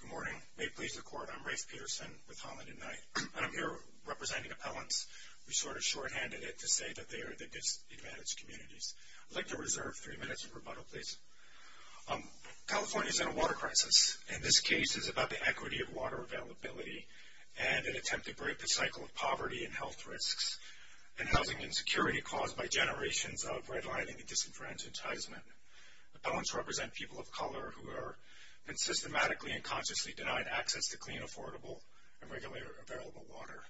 Good morning. May it please the Court, I'm Rafe Peterson with Holland & Knight. I'm here representing appellants. We sort of shorthanded it to say that they are the disadvantaged communities. I'd like to reserve three minutes of rebuttal, please. California is in a water crisis, and this case is about the equity of water availability and an attempt to break the cycle of poverty and health risks and housing insecurity caused by generations of redlining and disenfranchisement. Appellants represent people of color who have been systematically and consciously denied access to clean, affordable, and readily available water.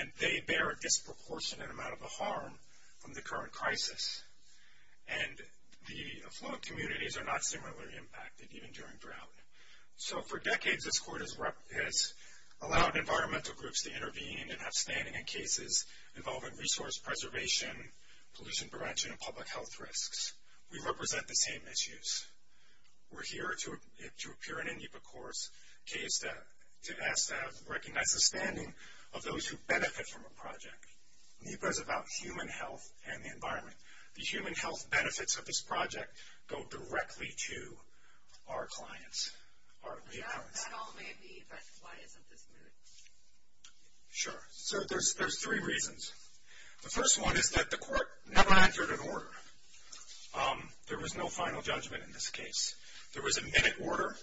And they bear a disproportionate amount of the harm from the current crisis. And the affluent communities are not similarly impacted, even during drought. So for decades, this Court has allowed environmental groups to intervene and have standing in cases involving resource preservation, pollution prevention, and public health risks. We represent the same issues. We're here to appear in NEPA Corps' case to ask to recognize the standing of those who benefit from a project. NEPA is about human health and the environment. The human health benefits of this project go directly to our clients, our reappellants. That all may be, but why isn't this moved? Sure. So there's three reasons. The first one is that the Court never entered an order. There was no final judgment in this case. There was a minute order,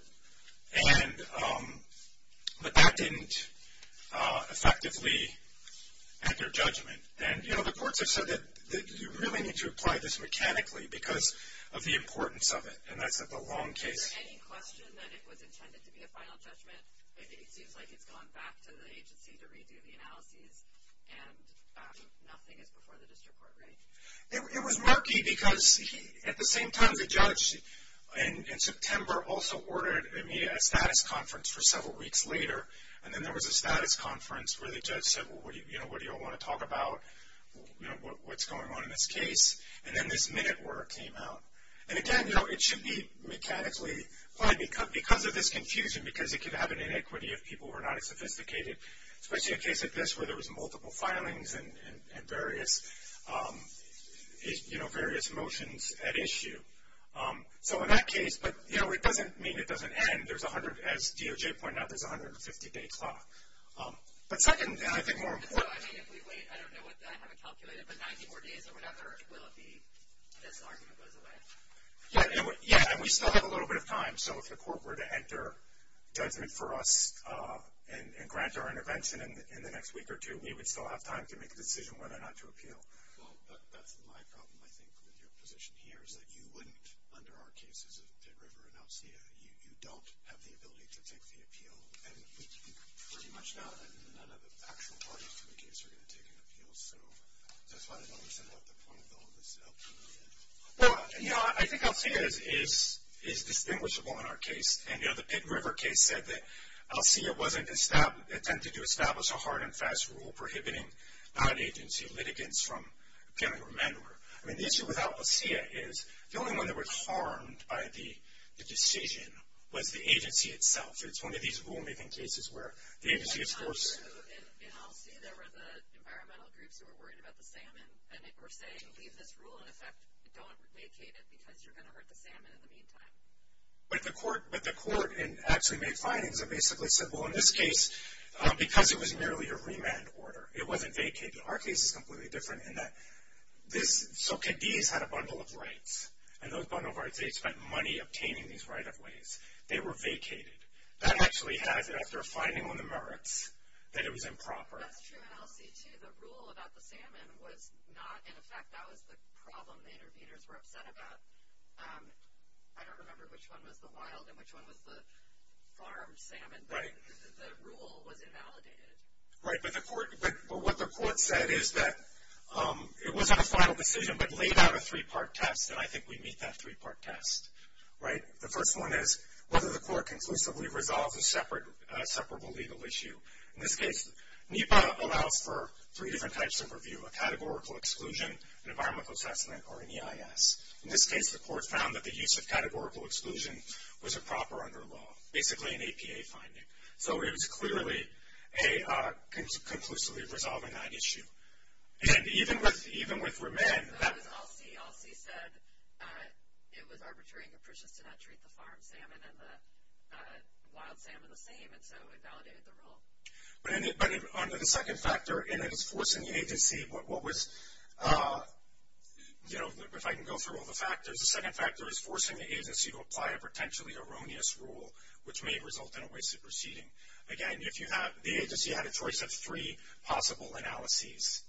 but that didn't effectively enter judgment. And, you know, the courts have said that you really need to apply this mechanically because of the importance of it, and that's at the long case. Is there any question that it was intended to be a final judgment? It seems like it's gone back to the agency to redo the analyses, and nothing is before the district court, right? It was murky because at the same time, the judge in September also ordered a status conference for several weeks later, and then there was a status conference where the judge said, well, what do you all want to talk about what's going on in this case? And then this minute order came out. And, again, you know, it should be mechanically applied because of this confusion because it could have an inequity if people were not as sophisticated, especially in a case like this where there was multiple filings and various motions at issue. So in that case, but, you know, it doesn't mean it doesn't end. As DOJ pointed out, there's a 150-day clock. But second, and I think more important. So, I mean, if we wait, I don't know, I haven't calculated, but 90 more days or whatever, will it be this argument goes away? Yeah, and we still have a little bit of time. So if the court were to enter judgment for us and grant our intervention in the next week or two, we would still have time to make a decision whether or not to appeal. Well, that's my problem, I think, with your position here, is that you wouldn't, under our cases of Pitt River and Elsia, you don't have the ability to take the appeal. And pretty much none of the actual parties to the case are going to take an appeal. So that's why I don't understand what the point of all this is. Well, you know, I think Elsia is distinguishable in our case. And, you know, the Pitt River case said that Elsia wasn't, attempted to establish a hard and fast rule prohibiting non-agency litigants from killing or murder. I mean, the issue with Elsia is the only one that was harmed by the decision was the agency itself. It's one of these rule-making cases where the agency is forced. So in Elsia, there were the environmental groups who were worried about the salmon. And they were saying, leave this rule in effect. Don't vacate it because you're going to hurt the salmon in the meantime. But the court actually made findings that basically said, well, in this case, because it was merely a remand order, it wasn't vacated. Our case is completely different in that this, so Cadiz had a bundle of rights. And those bundle of rights, they had spent money obtaining these right-of-ways. They were vacated. That actually had, after a finding on the merits, that it was improper. That's true in Elsia, too. The rule about the salmon was not in effect. That was the problem the interveners were upset about. I don't remember which one was the wild and which one was the farmed salmon. But the rule was invalidated. Right. But what the court said is that it wasn't a final decision but laid out a three-part test. And I think we meet that three-part test. Right. The first one is whether the court conclusively resolves a separable legal issue. In this case, NEPA allows for three different types of review, a categorical exclusion, an environmental assessment, or an EIS. In this case, the court found that the use of categorical exclusion was improper under law, basically an APA finding. So it was clearly conclusively resolving that issue. And even with remand, that was Elsie. Elsie said it was arbitrary and capricious to not treat the farmed salmon and the wild salmon the same, and so it validated the rule. But under the second factor, and it is forcing the agency, what was, you know, if I can go through all the factors, the second factor is forcing the agency to apply a potentially erroneous rule, which may result in a wasted proceeding. Again, the agency had a choice of three possible analyses.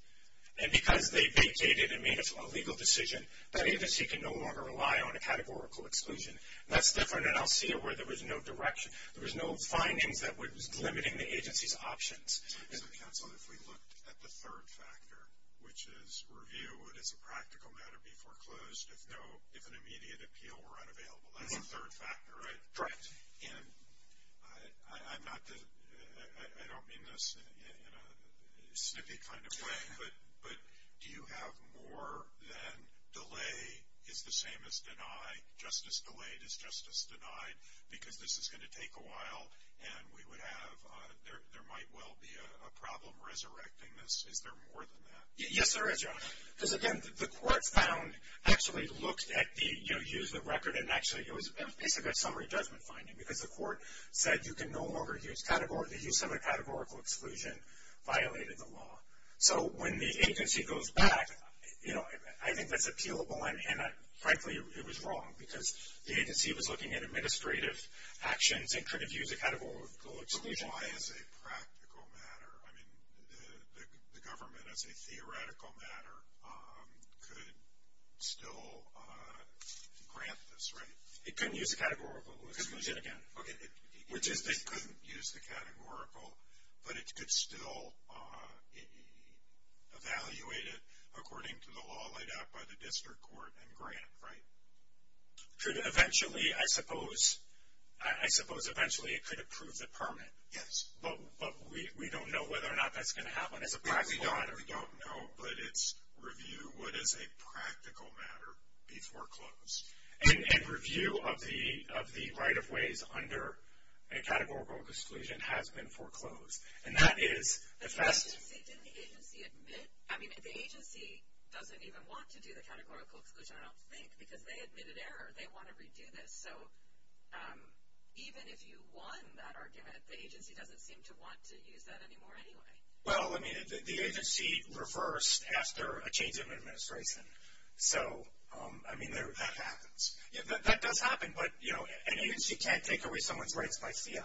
And because they dated and made a legal decision, that agency can no longer rely on a categorical exclusion. That's different in Elsie where there was no direction, there was no findings that was limiting the agency's options. So, counsel, if we looked at the third factor, which is review, would, as a practical matter, be foreclosed if an immediate appeal were unavailable? That's the third factor, right? Correct. And I'm not the, I don't mean this in a snippy kind of way, but do you have more than delay is the same as deny, justice delayed is justice denied, because this is going to take a while and we would have, there might well be a problem resurrecting this. Is there more than that? Yes, there is. Because, again, the court found, actually looked at the, you know, used the record, and actually it was basically a summary judgment finding. Because the court said you can no longer use category, the use of a categorical exclusion violated the law. So, when the agency goes back, you know, I think that's appealable. And, frankly, it was wrong. Because the agency was looking at administrative actions and could have used a categorical exclusion. But why, as a practical matter, I mean, the government, as a theoretical matter, could still grant this, right? It couldn't use a categorical exclusion again. Okay. It couldn't use the categorical, but it could still evaluate it according to the law laid out by the district court and grant, right? Could eventually, I suppose, I suppose eventually it could approve the permit. Yes. But we don't know whether or not that's going to happen as a practical matter. We don't know, but it's review what is a practical matter before close. And review of the right of ways under a categorical exclusion has been foreclosed. And that is the best. Didn't the agency admit, I mean, the agency doesn't even want to do the categorical exclusion, I don't think, because they admitted error. They want to redo this. So, even if you won that argument, the agency doesn't seem to want to use that anymore anyway. Well, I mean, the agency reversed after a change in administration. So, I mean, that happens. That does happen, but, you know, an agency can't take away someone's rights by fiat,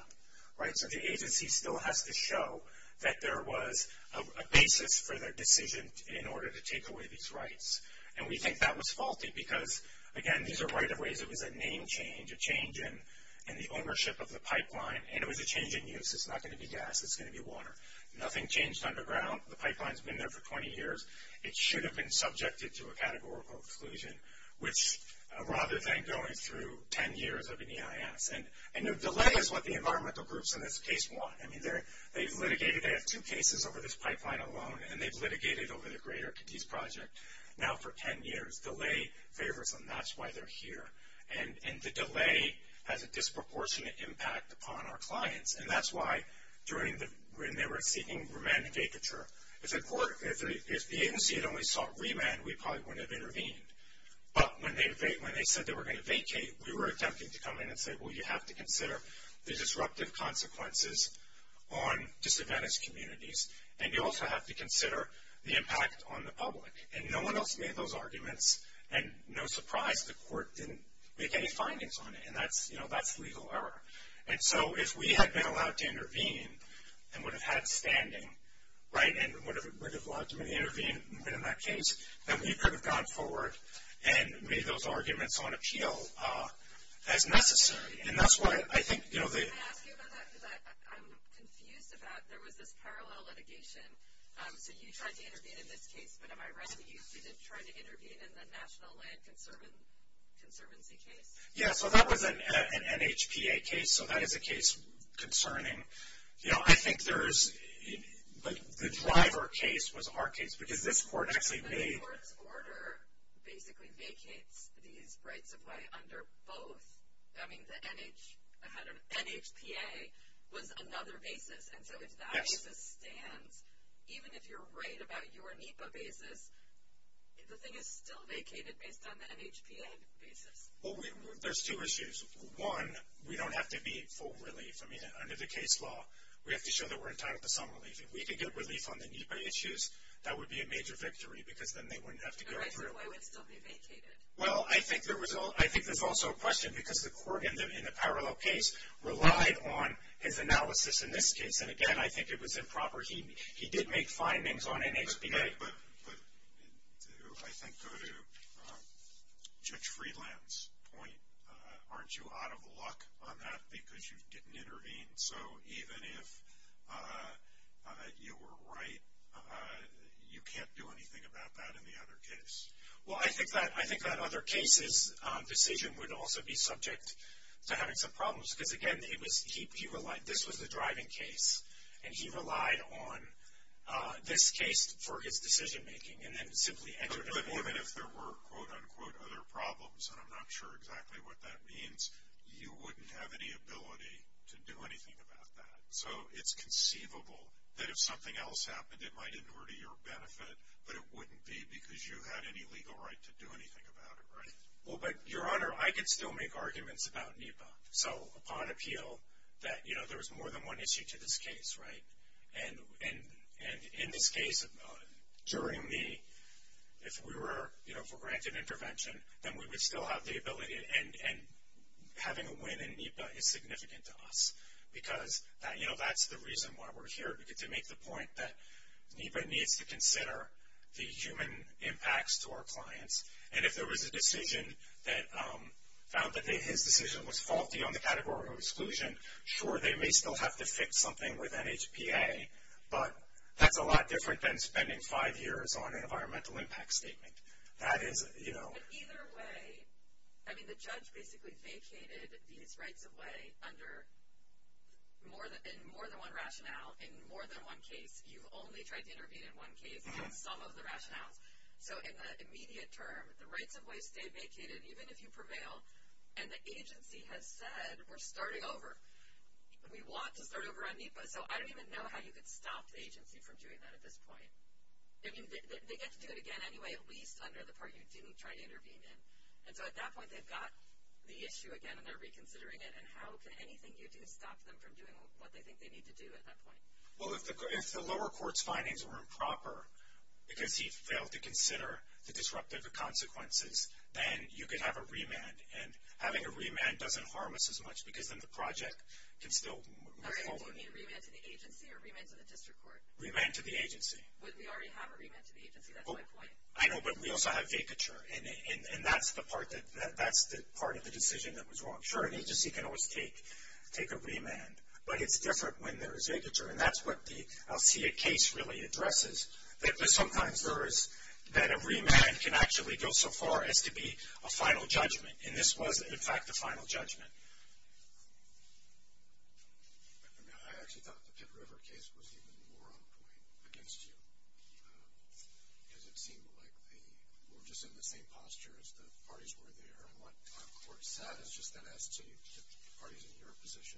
right? So, the agency still has to show that there was a basis for their decision in order to take away these rights. And we think that was faulty because, again, these are right of ways. It was a name change, a change in the ownership of the pipeline. And it was a change in use. It's not going to be gas. It's going to be water. Nothing changed underground. The pipeline's been there for 20 years. It should have been subjected to a categorical exclusion, which rather than going through 10 years of an EIS. And delay is what the environmental groups in this case want. I mean, they've litigated. They have two cases over this pipeline alone. And they've litigated over the Greater Cadiz Project now for 10 years. Delay favors them. That's why they're here. And the delay has a disproportionate impact upon our clients. And that's why, when they were seeking remand and vacature, if the agency had only sought remand, we probably wouldn't have intervened. But when they said they were going to vacate, we were attempting to come in and say, well, you have to consider the disruptive consequences on disadvantaged communities. And you also have to consider the impact on the public. And no one else made those arguments. And, no surprise, the court didn't make any findings on it. And that's legal error. And so if we had been allowed to intervene and would have had standing, right, and would have allowed them to intervene in that case, then we could have gone forward and made those arguments on appeal as necessary. And that's why I think, you know, the – Can I ask you about that? Because I'm confused about there was this parallel litigation. So you tried to intervene in this case. But am I right that you did try to intervene in the National Land Conservancy case? Yeah, so that was an NHPA case. So that is a case concerning, you know, I think there is – the driver case was our case because this court actually made – But the court's order basically vacates these rights of way under both. I mean, the NHPA was another basis. And so if that basis stands, even if you're right about your NEPA basis, the thing is still vacated based on the NHPA basis. Well, there's two issues. One, we don't have to be in full relief. I mean, under the case law, we have to show that we're entitled to some relief. If we could get relief on the NEPA issues, that would be a major victory because then they wouldn't have to go through. The rights of way would still be vacated. Well, I think there's also a question because the court in the parallel case relied on his analysis in this case. And, again, I think it was improper. He did make findings on NHPA. But to, I think, go to Judge Friedland's point, aren't you out of luck on that because you didn't intervene? So even if you were right, you can't do anything about that in the other case. Well, I think that other case's decision would also be subject to having some problems because, again, he relied – this was the driving case. And he relied on this case for his decision-making and then simply entered it. But even if there were, quote, unquote, other problems, and I'm not sure exactly what that means, you wouldn't have any ability to do anything about that. So it's conceivable that if something else happened, it might have been to your benefit, but it wouldn't be because you had any legal right to do anything about it, right? Well, but, Your Honor, I could still make arguments about NEPA. So upon appeal, that, you know, there was more than one issue to this case, right? And in this case, during the – if we were, you know, for granted intervention, then we would still have the ability. And having a win in NEPA is significant to us because, you know, that's the reason why we're here, to make the point that NEPA needs to consider the human impacts to our clients. And if there was a decision that found that his decision was faulty on the category of exclusion, sure, they may still have to fix something with NHPA, but that's a lot different than spending five years on an environmental impact statement. That is, you know. But either way, I mean, the judge basically vacated these rights of way under more than one rationale. In more than one case, you've only tried to intervene in one case on some of the rationales. So in the immediate term, the rights of way stayed vacated, even if you prevail. And the agency has said, we're starting over. We want to start over on NEPA. So I don't even know how you could stop the agency from doing that at this point. I mean, they get to do it again anyway, at least under the part you didn't try to intervene in. And so at that point, they've got the issue again, and they're reconsidering it. And how can anything you do stop them from doing what they think they need to do at that point? Well, if the lower court's findings were improper, because he failed to consider the disruptive consequences, then you could have a remand. And having a remand doesn't harm us as much, because then the project can still move forward. Do you mean remand to the agency or remand to the district court? Remand to the agency. But we already have a remand to the agency. That's my point. I know, but we also have vacature, and that's the part of the decision that was wrong. Sure, an agency can always take a remand, but it's different when there is vacature. And that's what the Alsea case really addresses, that sometimes there is that a remand can actually go so far as to be a final judgment. And this was, in fact, the final judgment. I actually thought the Pitt River case was even more on point against you, because it seemed like they were just in the same posture as the parties were there. And what the court said is just that as to the parties in your position,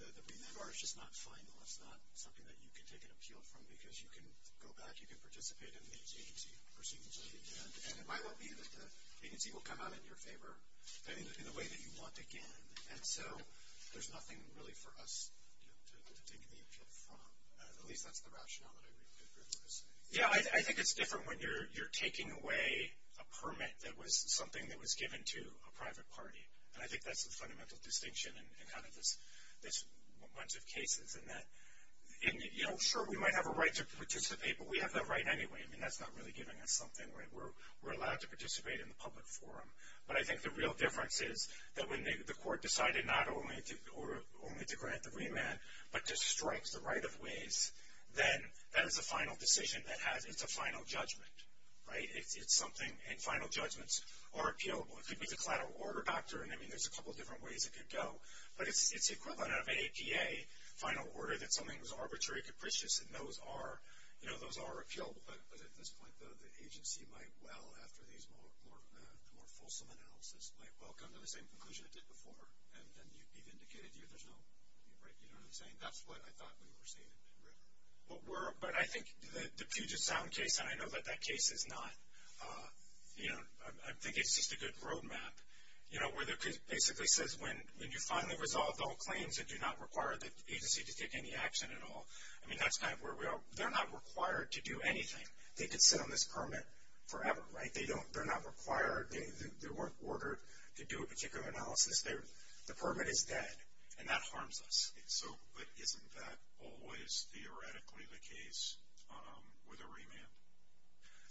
the remand bar is just not final. It's not something that you can take an appeal from, because you can go back, you can participate in the agency proceedings. And it might well be that the agency will come out in your favor in a way that you want again. And so there's nothing really for us to take an appeal from. At least that's the rationale that I really was saying. Yeah, I think it's different when you're taking away a permit that was something that was given to a private party. And I think that's the fundamental distinction in kind of this bunch of cases. And, you know, sure, we might have a right to participate, but we have that right anyway. I mean, that's not really giving us something, right? We're allowed to participate in the public forum. But I think the real difference is that when the court decided not only to grant the remand, but to strike the right of ways, then that is a final decision. It's a final judgment, right? It's something, and final judgments are appealable. It could be the collateral order factor, and, I mean, there's a couple different ways it could go. But it's the equivalent of an APA final order that something was arbitrary, capricious, and those are, you know, those are appealable. But at this point, though, the agency might well, after these more fulsome analysis, might well come to the same conclusion it did before, and be vindicated. You know what I'm saying? That's what I thought we were saying in Mid-River. But I think the Puget Sound case, and I know that that case is not, you know, I think it's just a good road map, you know, where it basically says when you finally resolve all claims and do not require the agency to take any action at all, I mean, that's kind of where we are. They're not required to do anything. They could sit on this permit forever, right? They don't, they're not required, they weren't ordered to do a particular analysis. The permit is dead, and that harms us.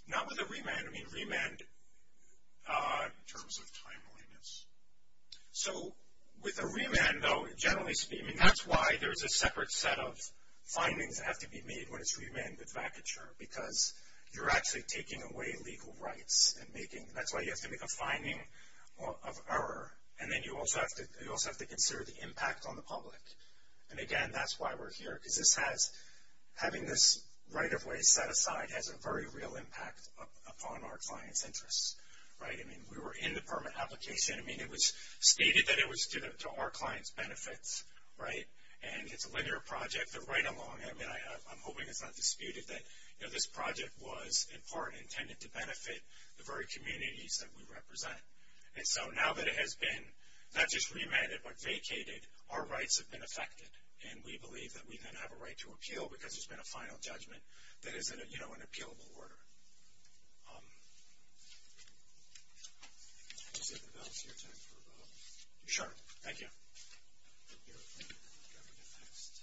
Not with a remand. I mean, remand in terms of timeliness. So with a remand, though, generally speaking, that's why there's a separate set of findings that have to be made when it's remanded vacature, because you're actually taking away legal rights and making, that's why you have to make a finding of error, and then you also have to consider the impact on the public. And, again, that's why we're here, because this has, having this right-of-way set aside has a very real impact upon our client's interests, right? I mean, we were in the permit application. I mean, it was stated that it was to our client's benefits, right? And it's a linear project, but right along, I mean, I'm hoping it's not disputed that, you know, this project was in part intended to benefit the very communities that we represent. And so now that it has been not just remanded but vacated, our rights have been affected, and we believe that we then have a right to appeal because there's been a final judgment that is, you know, an appealable order. Just hit the bell so you're timed for a vote. Sure. Thank you. You're up next.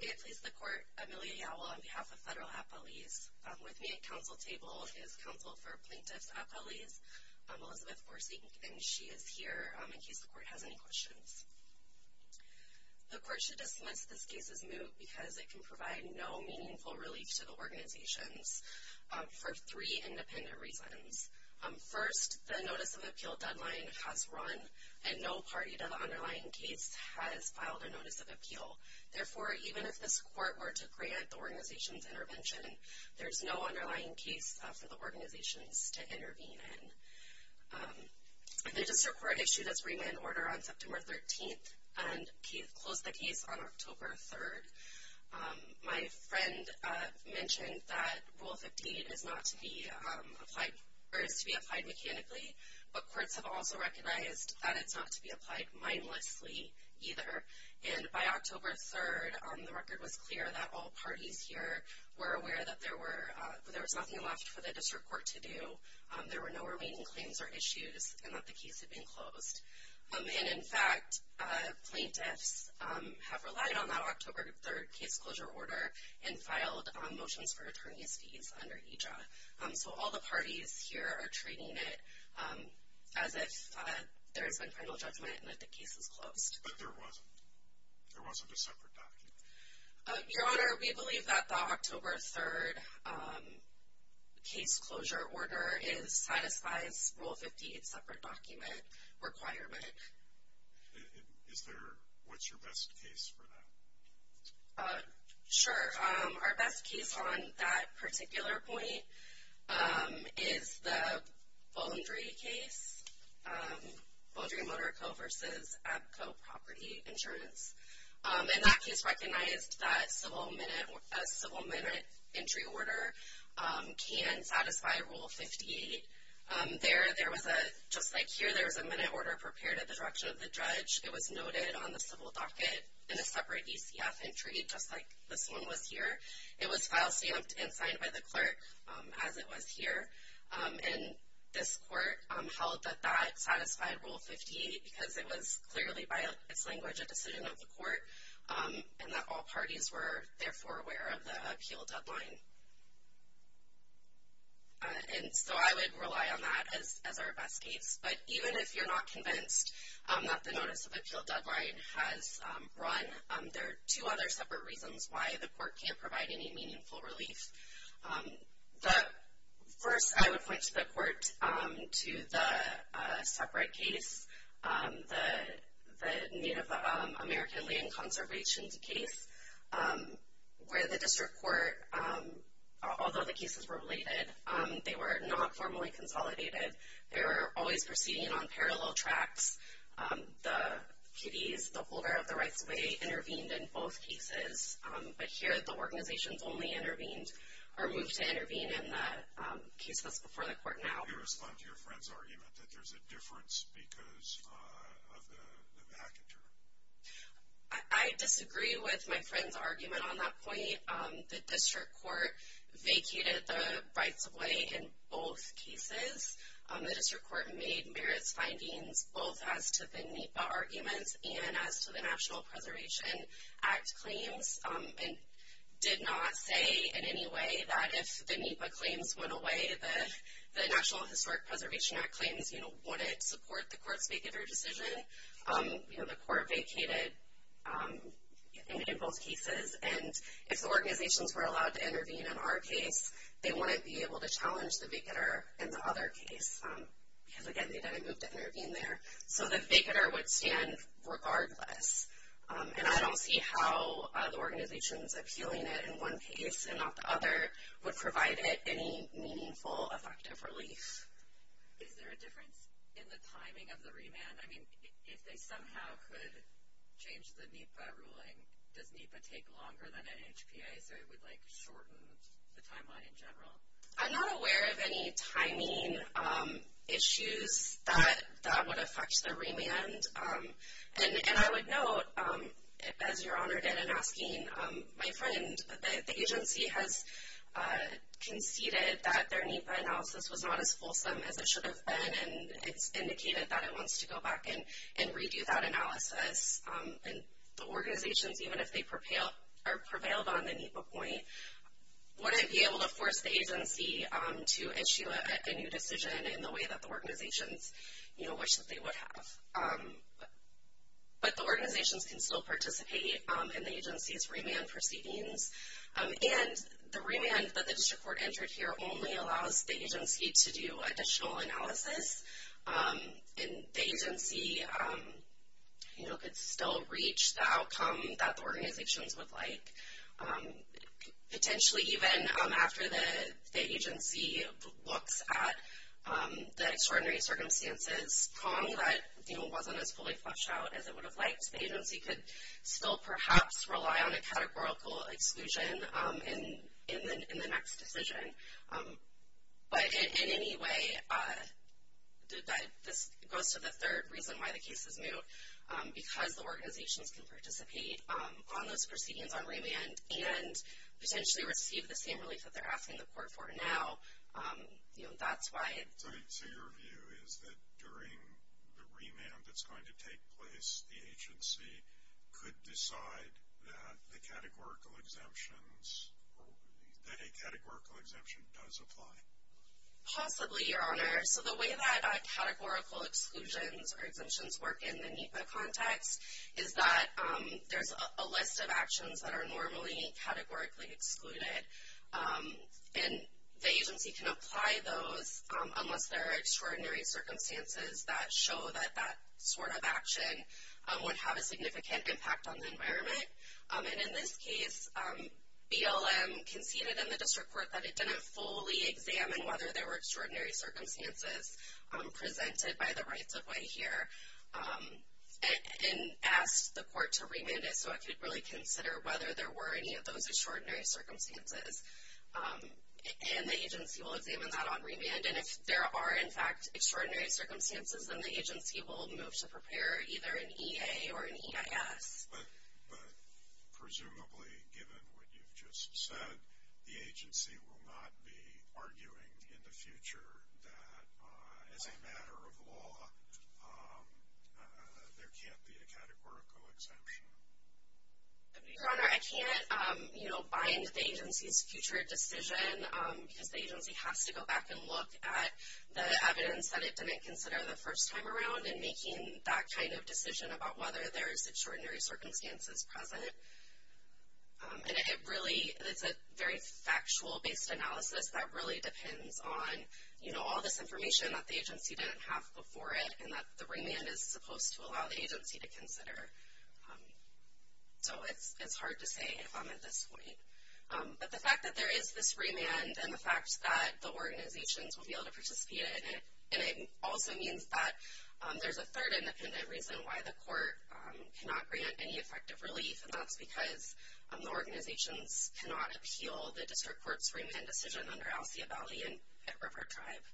May it please the Court, Amelia Yowell on behalf of Federal Appellees. With me at council table is Counsel for Plaintiffs Appellees, Elizabeth Forsyth, and she is here in case the Court has any questions. The Court should dismiss this case as moot because it can provide no meaningful relief to the organizations for three independent reasons. First, the notice of appeal deadline has run, and no party to the underlying case has filed a notice of appeal. Therefore, even if this Court were to grant the organization's intervention, there's no underlying case for the organizations to intervene in. The District Court issued its remand order on September 13th and closed the case on October 3rd. My friend mentioned that Rule 58 is to be applied mechanically, but courts have also recognized that it's not to be applied mindlessly either. And by October 3rd, the record was clear that all parties here were aware that there was nothing left for the District Court to do. There were no remaining claims or issues and that the case had been closed. And, in fact, plaintiffs have relied on that October 3rd case closure order and filed motions for returning these fees under EJA. So all the parties here are treating it as if there's been final judgment and that the case is closed. But there wasn't. There wasn't a separate document. Your Honor, we believe that the October 3rd case closure order satisfies Rule 58's separate document requirement. Is there – what's your best case for that? Sure. Our best case on that particular point is the Boundary case, Boundary Motor Co. versus Abco Property Insurance. And that case recognized that a civil minute entry order can satisfy Rule 58. There was a – just like here, there was a minute order prepared at the direction of the judge. It was noted on the civil docket in a separate ECF entry, just like this one was here. It was file stamped and signed by the clerk, as it was here. And this court held that that satisfied Rule 58 because it was clearly, by its language, a decision of the court and that all parties were, therefore, aware of the appeal deadline. And so I would rely on that as our best case. But even if you're not convinced that the notice of appeal deadline has run, there are two other separate reasons why the court can't provide any meaningful relief. First, I would point the court to the separate case, the Native American Land Conservation case, where the district court, although the cases were related, they were not formally consolidated. They were always proceeding on parallel tracks. The PDs, the holder of the rights of way, intervened in both cases. But here the organizations only intervened or moved to intervene in the case that's before the court now. How do you respond to your friend's argument that there's a difference because of the vacatur? I disagree with my friend's argument on that point. The district court vacated the rights of way in both cases. The district court made merits findings both as to the NEPA arguments and as to the National Preservation Act claims, and did not say in any way that if the NEPA claims went away, the National Historic Preservation Act claims wouldn't support the court's vacatur decision. The court vacated in both cases. And if the organizations were allowed to intervene in our case, they wouldn't be able to challenge the vacatur in the other case. Because, again, they didn't move to intervene there. So the vacatur would stand regardless. And I don't see how the organizations appealing it in one case and not the other would provide it any meaningful, effective relief. Is there a difference in the timing of the remand? I mean, if they somehow could change the NEPA ruling, does NEPA take longer than NHPA, so it would, like, shorten the timeline in general? I'm not aware of any timing issues that would affect the remand. And I would note, as Your Honor did in asking my friend, the agency has conceded that their NEPA analysis was not as fulsome as it should have been, and it's indicated that it wants to go back and redo that analysis. And the organizations, even if they prevailed on the NEPA point, wouldn't be able to force the agency to issue a new decision in the way that the organizations, you know, wished that they would have. But the organizations can still participate in the agency's remand proceedings. And the remand that the district court entered here only allows the agency to do additional analysis, and the agency, you know, could still reach the outcome that the organizations would like. Potentially even after the agency looks at the extraordinary circumstances prong that, you know, wasn't as fully fleshed out as it would have liked, the agency could still perhaps rely on a categorical exclusion in the next decision. But in any way, this goes to the third reason why the case is moot, because the organizations can participate on those proceedings on remand and potentially receive the same relief that they're asking the court for now. You know, that's why. So your view is that during the remand that's going to take place, the agency could decide that the categorical exemptions, that a categorical exemption does apply? Possibly, Your Honor. So the way that categorical exclusions or exemptions work in the NEPA context is that there's a list of actions that are normally categorically excluded. And the agency can apply those unless there are extraordinary circumstances that show that that sort of action would have a significant impact on the environment. And in this case, BLM conceded in the district court that it didn't fully examine whether there were extraordinary circumstances presented by the rights-of-way here and asked the court to remand it so it could really consider whether there were any of those extraordinary circumstances. And the agency will examine that on remand. And if there are, in fact, extraordinary circumstances, then the agency will move to prepare either an EA or an EIS. But presumably, given what you've just said, the agency will not be arguing in the future that as a matter of law there can't be a categorical exemption. Your Honor, I can't, you know, bind the agency's future decision because the agency has to go back and look at the evidence that it didn't consider the first time around in making that kind of decision about whether there's extraordinary circumstances present. And it really is a very factual-based analysis that really depends on, you know, all this information that the agency didn't have before it and that the remand is supposed to allow the agency to consider. So it's hard to say if I'm at this point. But the fact that there is this remand and the fact that the organizations will be able to participate in it, and it also means that there's a third independent reason why the court cannot grant any effective relief, and that's because the organizations cannot appeal the district court's remand decision under Alcea Valley and River Tribe.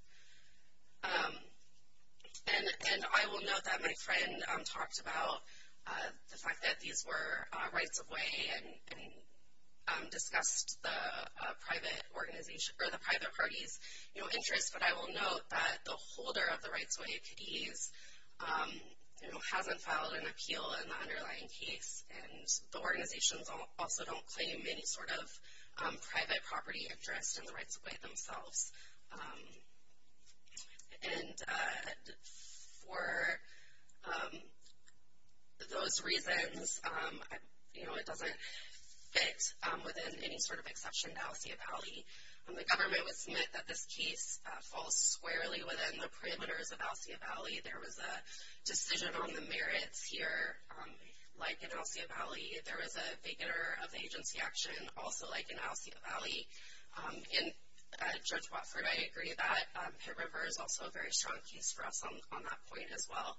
And I will note that my friend talked about the fact that these were rights-of-way and discussed the private organization or the private party's, you know, interests. But I will note that the holder of the rights-of-way, Cadiz, you know, hasn't filed an appeal in the underlying case, and the organizations also don't claim any sort of private property interest in the rights-of-way themselves. And for those reasons, you know, it doesn't fit within any sort of exception to Alcea Valley. The government would submit that this case falls squarely within the parameters of Alcea Valley. There was a decision on the merits here, like in Alcea Valley. There was a vacater of the agency action, also like in Alcea Valley. And Judge Watford, I agree that Pitt River is also a very strong case for us on that point as well.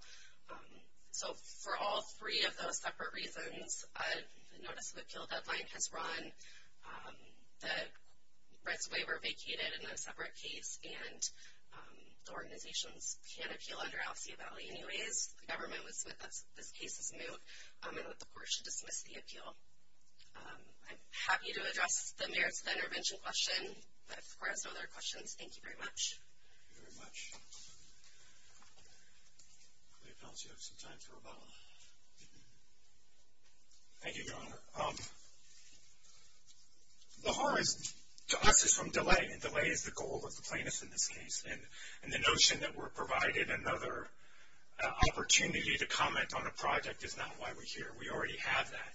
So for all three of those separate reasons, notice of appeal deadline has run. The rights-of-way were vacated in a separate case, and the organizations can't appeal under Alcea Valley anyways. The government would submit that this case is moot and that the court should dismiss the appeal. I'm happy to address the merits of the intervention question. If the court has no other questions, thank you very much. Thank you very much. I hope Alcea has some time for rebuttal. Thank you, Your Honor. The harm to us is from delay, and delay is the goal of the plaintiff in this case. And the notion that we're provided another opportunity to comment on a project is not why we're here. We already have that.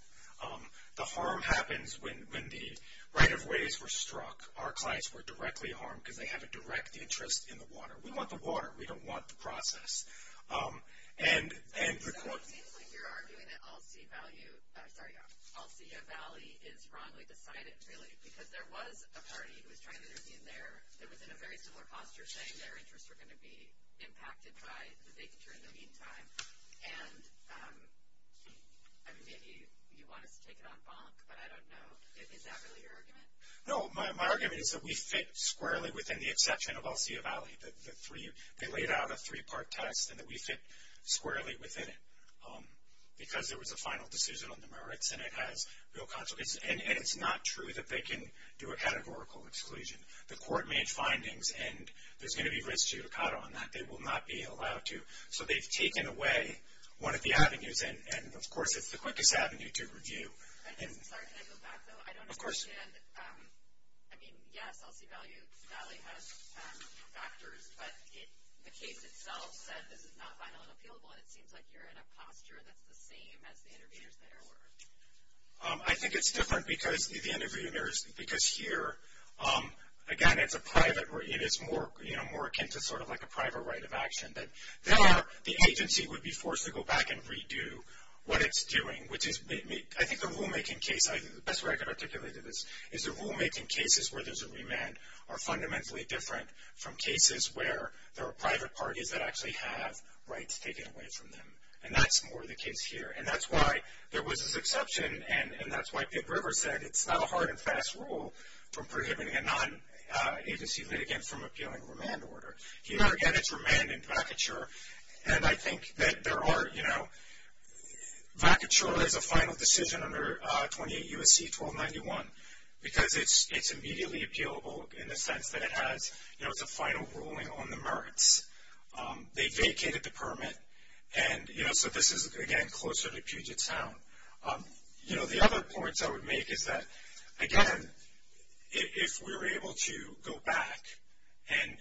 The harm happens when the right-of-ways were struck. Our clients were directly harmed because they have a direct interest in the water. We want the water. We don't want the process. So it seems like you're arguing that Alcea Valley is wrongly decided, really, because there was a party who was trying to intervene there that was in a very similar posture, saying their interests were going to be impacted by the vacature in the meantime. And, I mean, maybe you want us to take it on bonk, but I don't know. Is that really your argument? No, my argument is that we fit squarely within the exception of Alcea Valley. They laid out a three-part test and that we fit squarely within it because there was a final decision on the merits, and it has real consequences. And it's not true that they can do a categorical exclusion. The court made findings, and there's going to be risk judicata on that. They will not be allowed to. So they've taken away one of the avenues, and, of course, it's the quickest avenue to review. Sorry, can I go back, though? Of course. And, I mean, yes, Alcea Valley has factors, but the case itself said this is not final and appealable, and it seems like you're in a posture that's the same as the interveners there were. I think it's different because the interveners, because here, again, it's a private, it is more akin to sort of like a private right of action. There, the agency would be forced to go back and redo what it's doing, which is, I think, the rulemaking case, the best way I can articulate it is the rulemaking cases where there's a remand are fundamentally different from cases where there are private parties that actually have rights taken away from them, and that's more the case here. And that's why there was this exception, and that's why Pitt River said it's not a hard and fast rule from prohibiting a non-agency litigant from appealing a remand order. Here, again, it's remand and vacature, and I think that there are, you know, it's a final decision under 28 U.S.C. 1291 because it's immediately appealable in the sense that it has, you know, it's a final ruling on the merits. They vacated the permit, and, you know, so this is, again, closer to Puget Sound. You know, the other points I would make is that, again, if we were able to go back and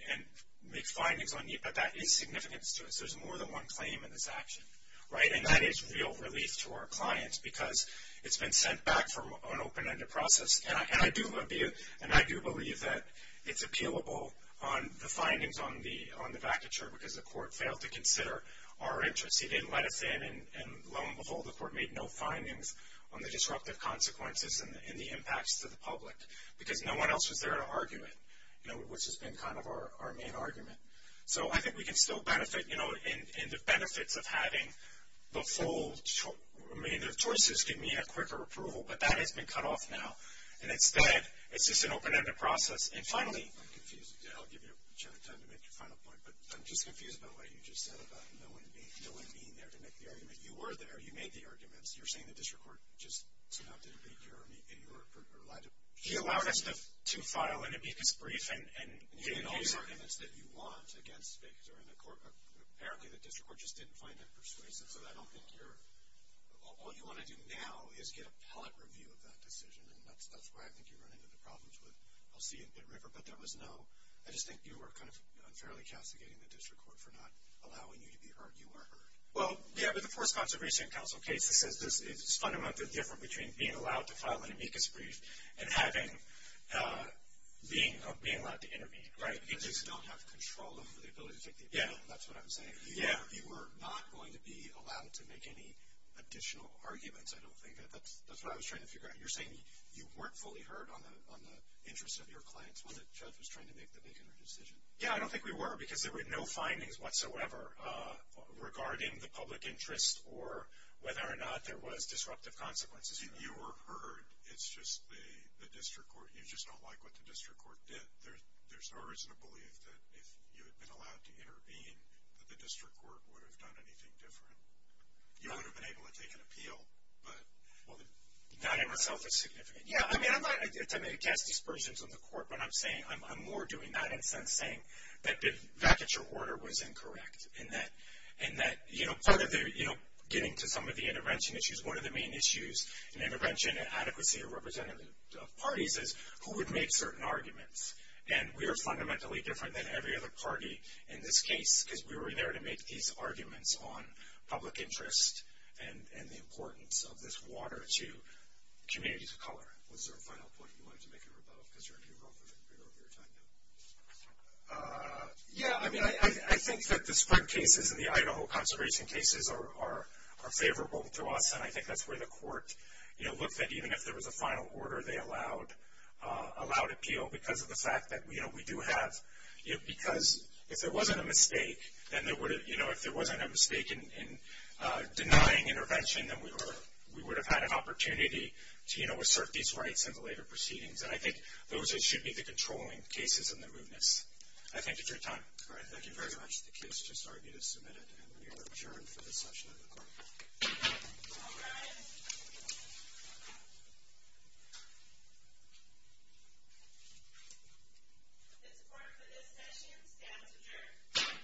make findings on NEPA, that is significant to us. There's more than one claim in this action, right? And that is real relief to our clients because it's been sent back from an open-ended process, and I do believe that it's appealable on the findings on the vacature because the court failed to consider our interests. He didn't let us in, and lo and behold, the court made no findings on the disruptive consequences and the impacts to the public because no one else was there to argue it, you know, which has been kind of our main argument. So I think we can still benefit, you know, in the benefits of having the full remainder of choices give me a quicker approval, but that has been cut off now. And instead, it's just an open-ended process. And finally, I'm confused. I'll give you time to make your final point, but I'm just confused about what you just said about no one being there to make the argument. You were there. You made the arguments. You were saying the district court just turned out to debate your argument, and you were allowed to be brief. You made all the arguments that you want against vacatures, and apparently the district court just didn't find that persuasive. So I don't think you're – all you want to do now is get a pellet review of that decision, and that's why I think you run into the problems with LC and Pitt River. But there was no – I just think you were kind of unfairly castigating the district court for not allowing you to be heard. You were heard. Well, yeah, but the Forest Conservation Council case, it's fundamentally different between being allowed to file an amicus brief and having – being allowed to intervene, right? You just don't have control over the ability to take the opinion. That's what I'm saying. You were not going to be allowed to make any additional arguments, I don't think. That's what I was trying to figure out. You're saying you weren't fully heard on the interests of your clients when the judge was trying to make the decision. Yeah, I don't think we were because there were no findings whatsoever regarding the public interest or whether or not there was disruptive consequences. You were heard. It's just the district court – you just don't like what the district court did. There's no reason to believe that if you had been allowed to intervene, that the district court would have done anything different. You would have been able to take an appeal, but – Not in itself is significant. Yeah, I mean, I'm not attempting to cast aspersions on the court when I'm saying – I'm more doing that in a sense saying that the vacature order was incorrect and that, you know, getting to some of the intervention issues, one of the main issues in intervention and adequacy of representative parties is who would make certain arguments. And we are fundamentally different than every other party in this case because we were there to make these arguments on public interest and the importance of this water to communities of color. Was there a final point you wanted to make? Because you're running over your time now. Yeah, I mean, I think that the spread cases and the Idaho conservation cases are favorable to us, and I think that's where the court looked that even if there was a final order, they allowed appeal because of the fact that we do have – because if there wasn't a mistake in denying intervention, then we would have had an opportunity to assert these rights in the later proceedings. And I think those should be the controlling cases in the moodness. I thank you for your time. All right, thank you very much. The case just argued is submitted, and we are adjourned for this session of the court. All rise. This court for this session stands adjourned.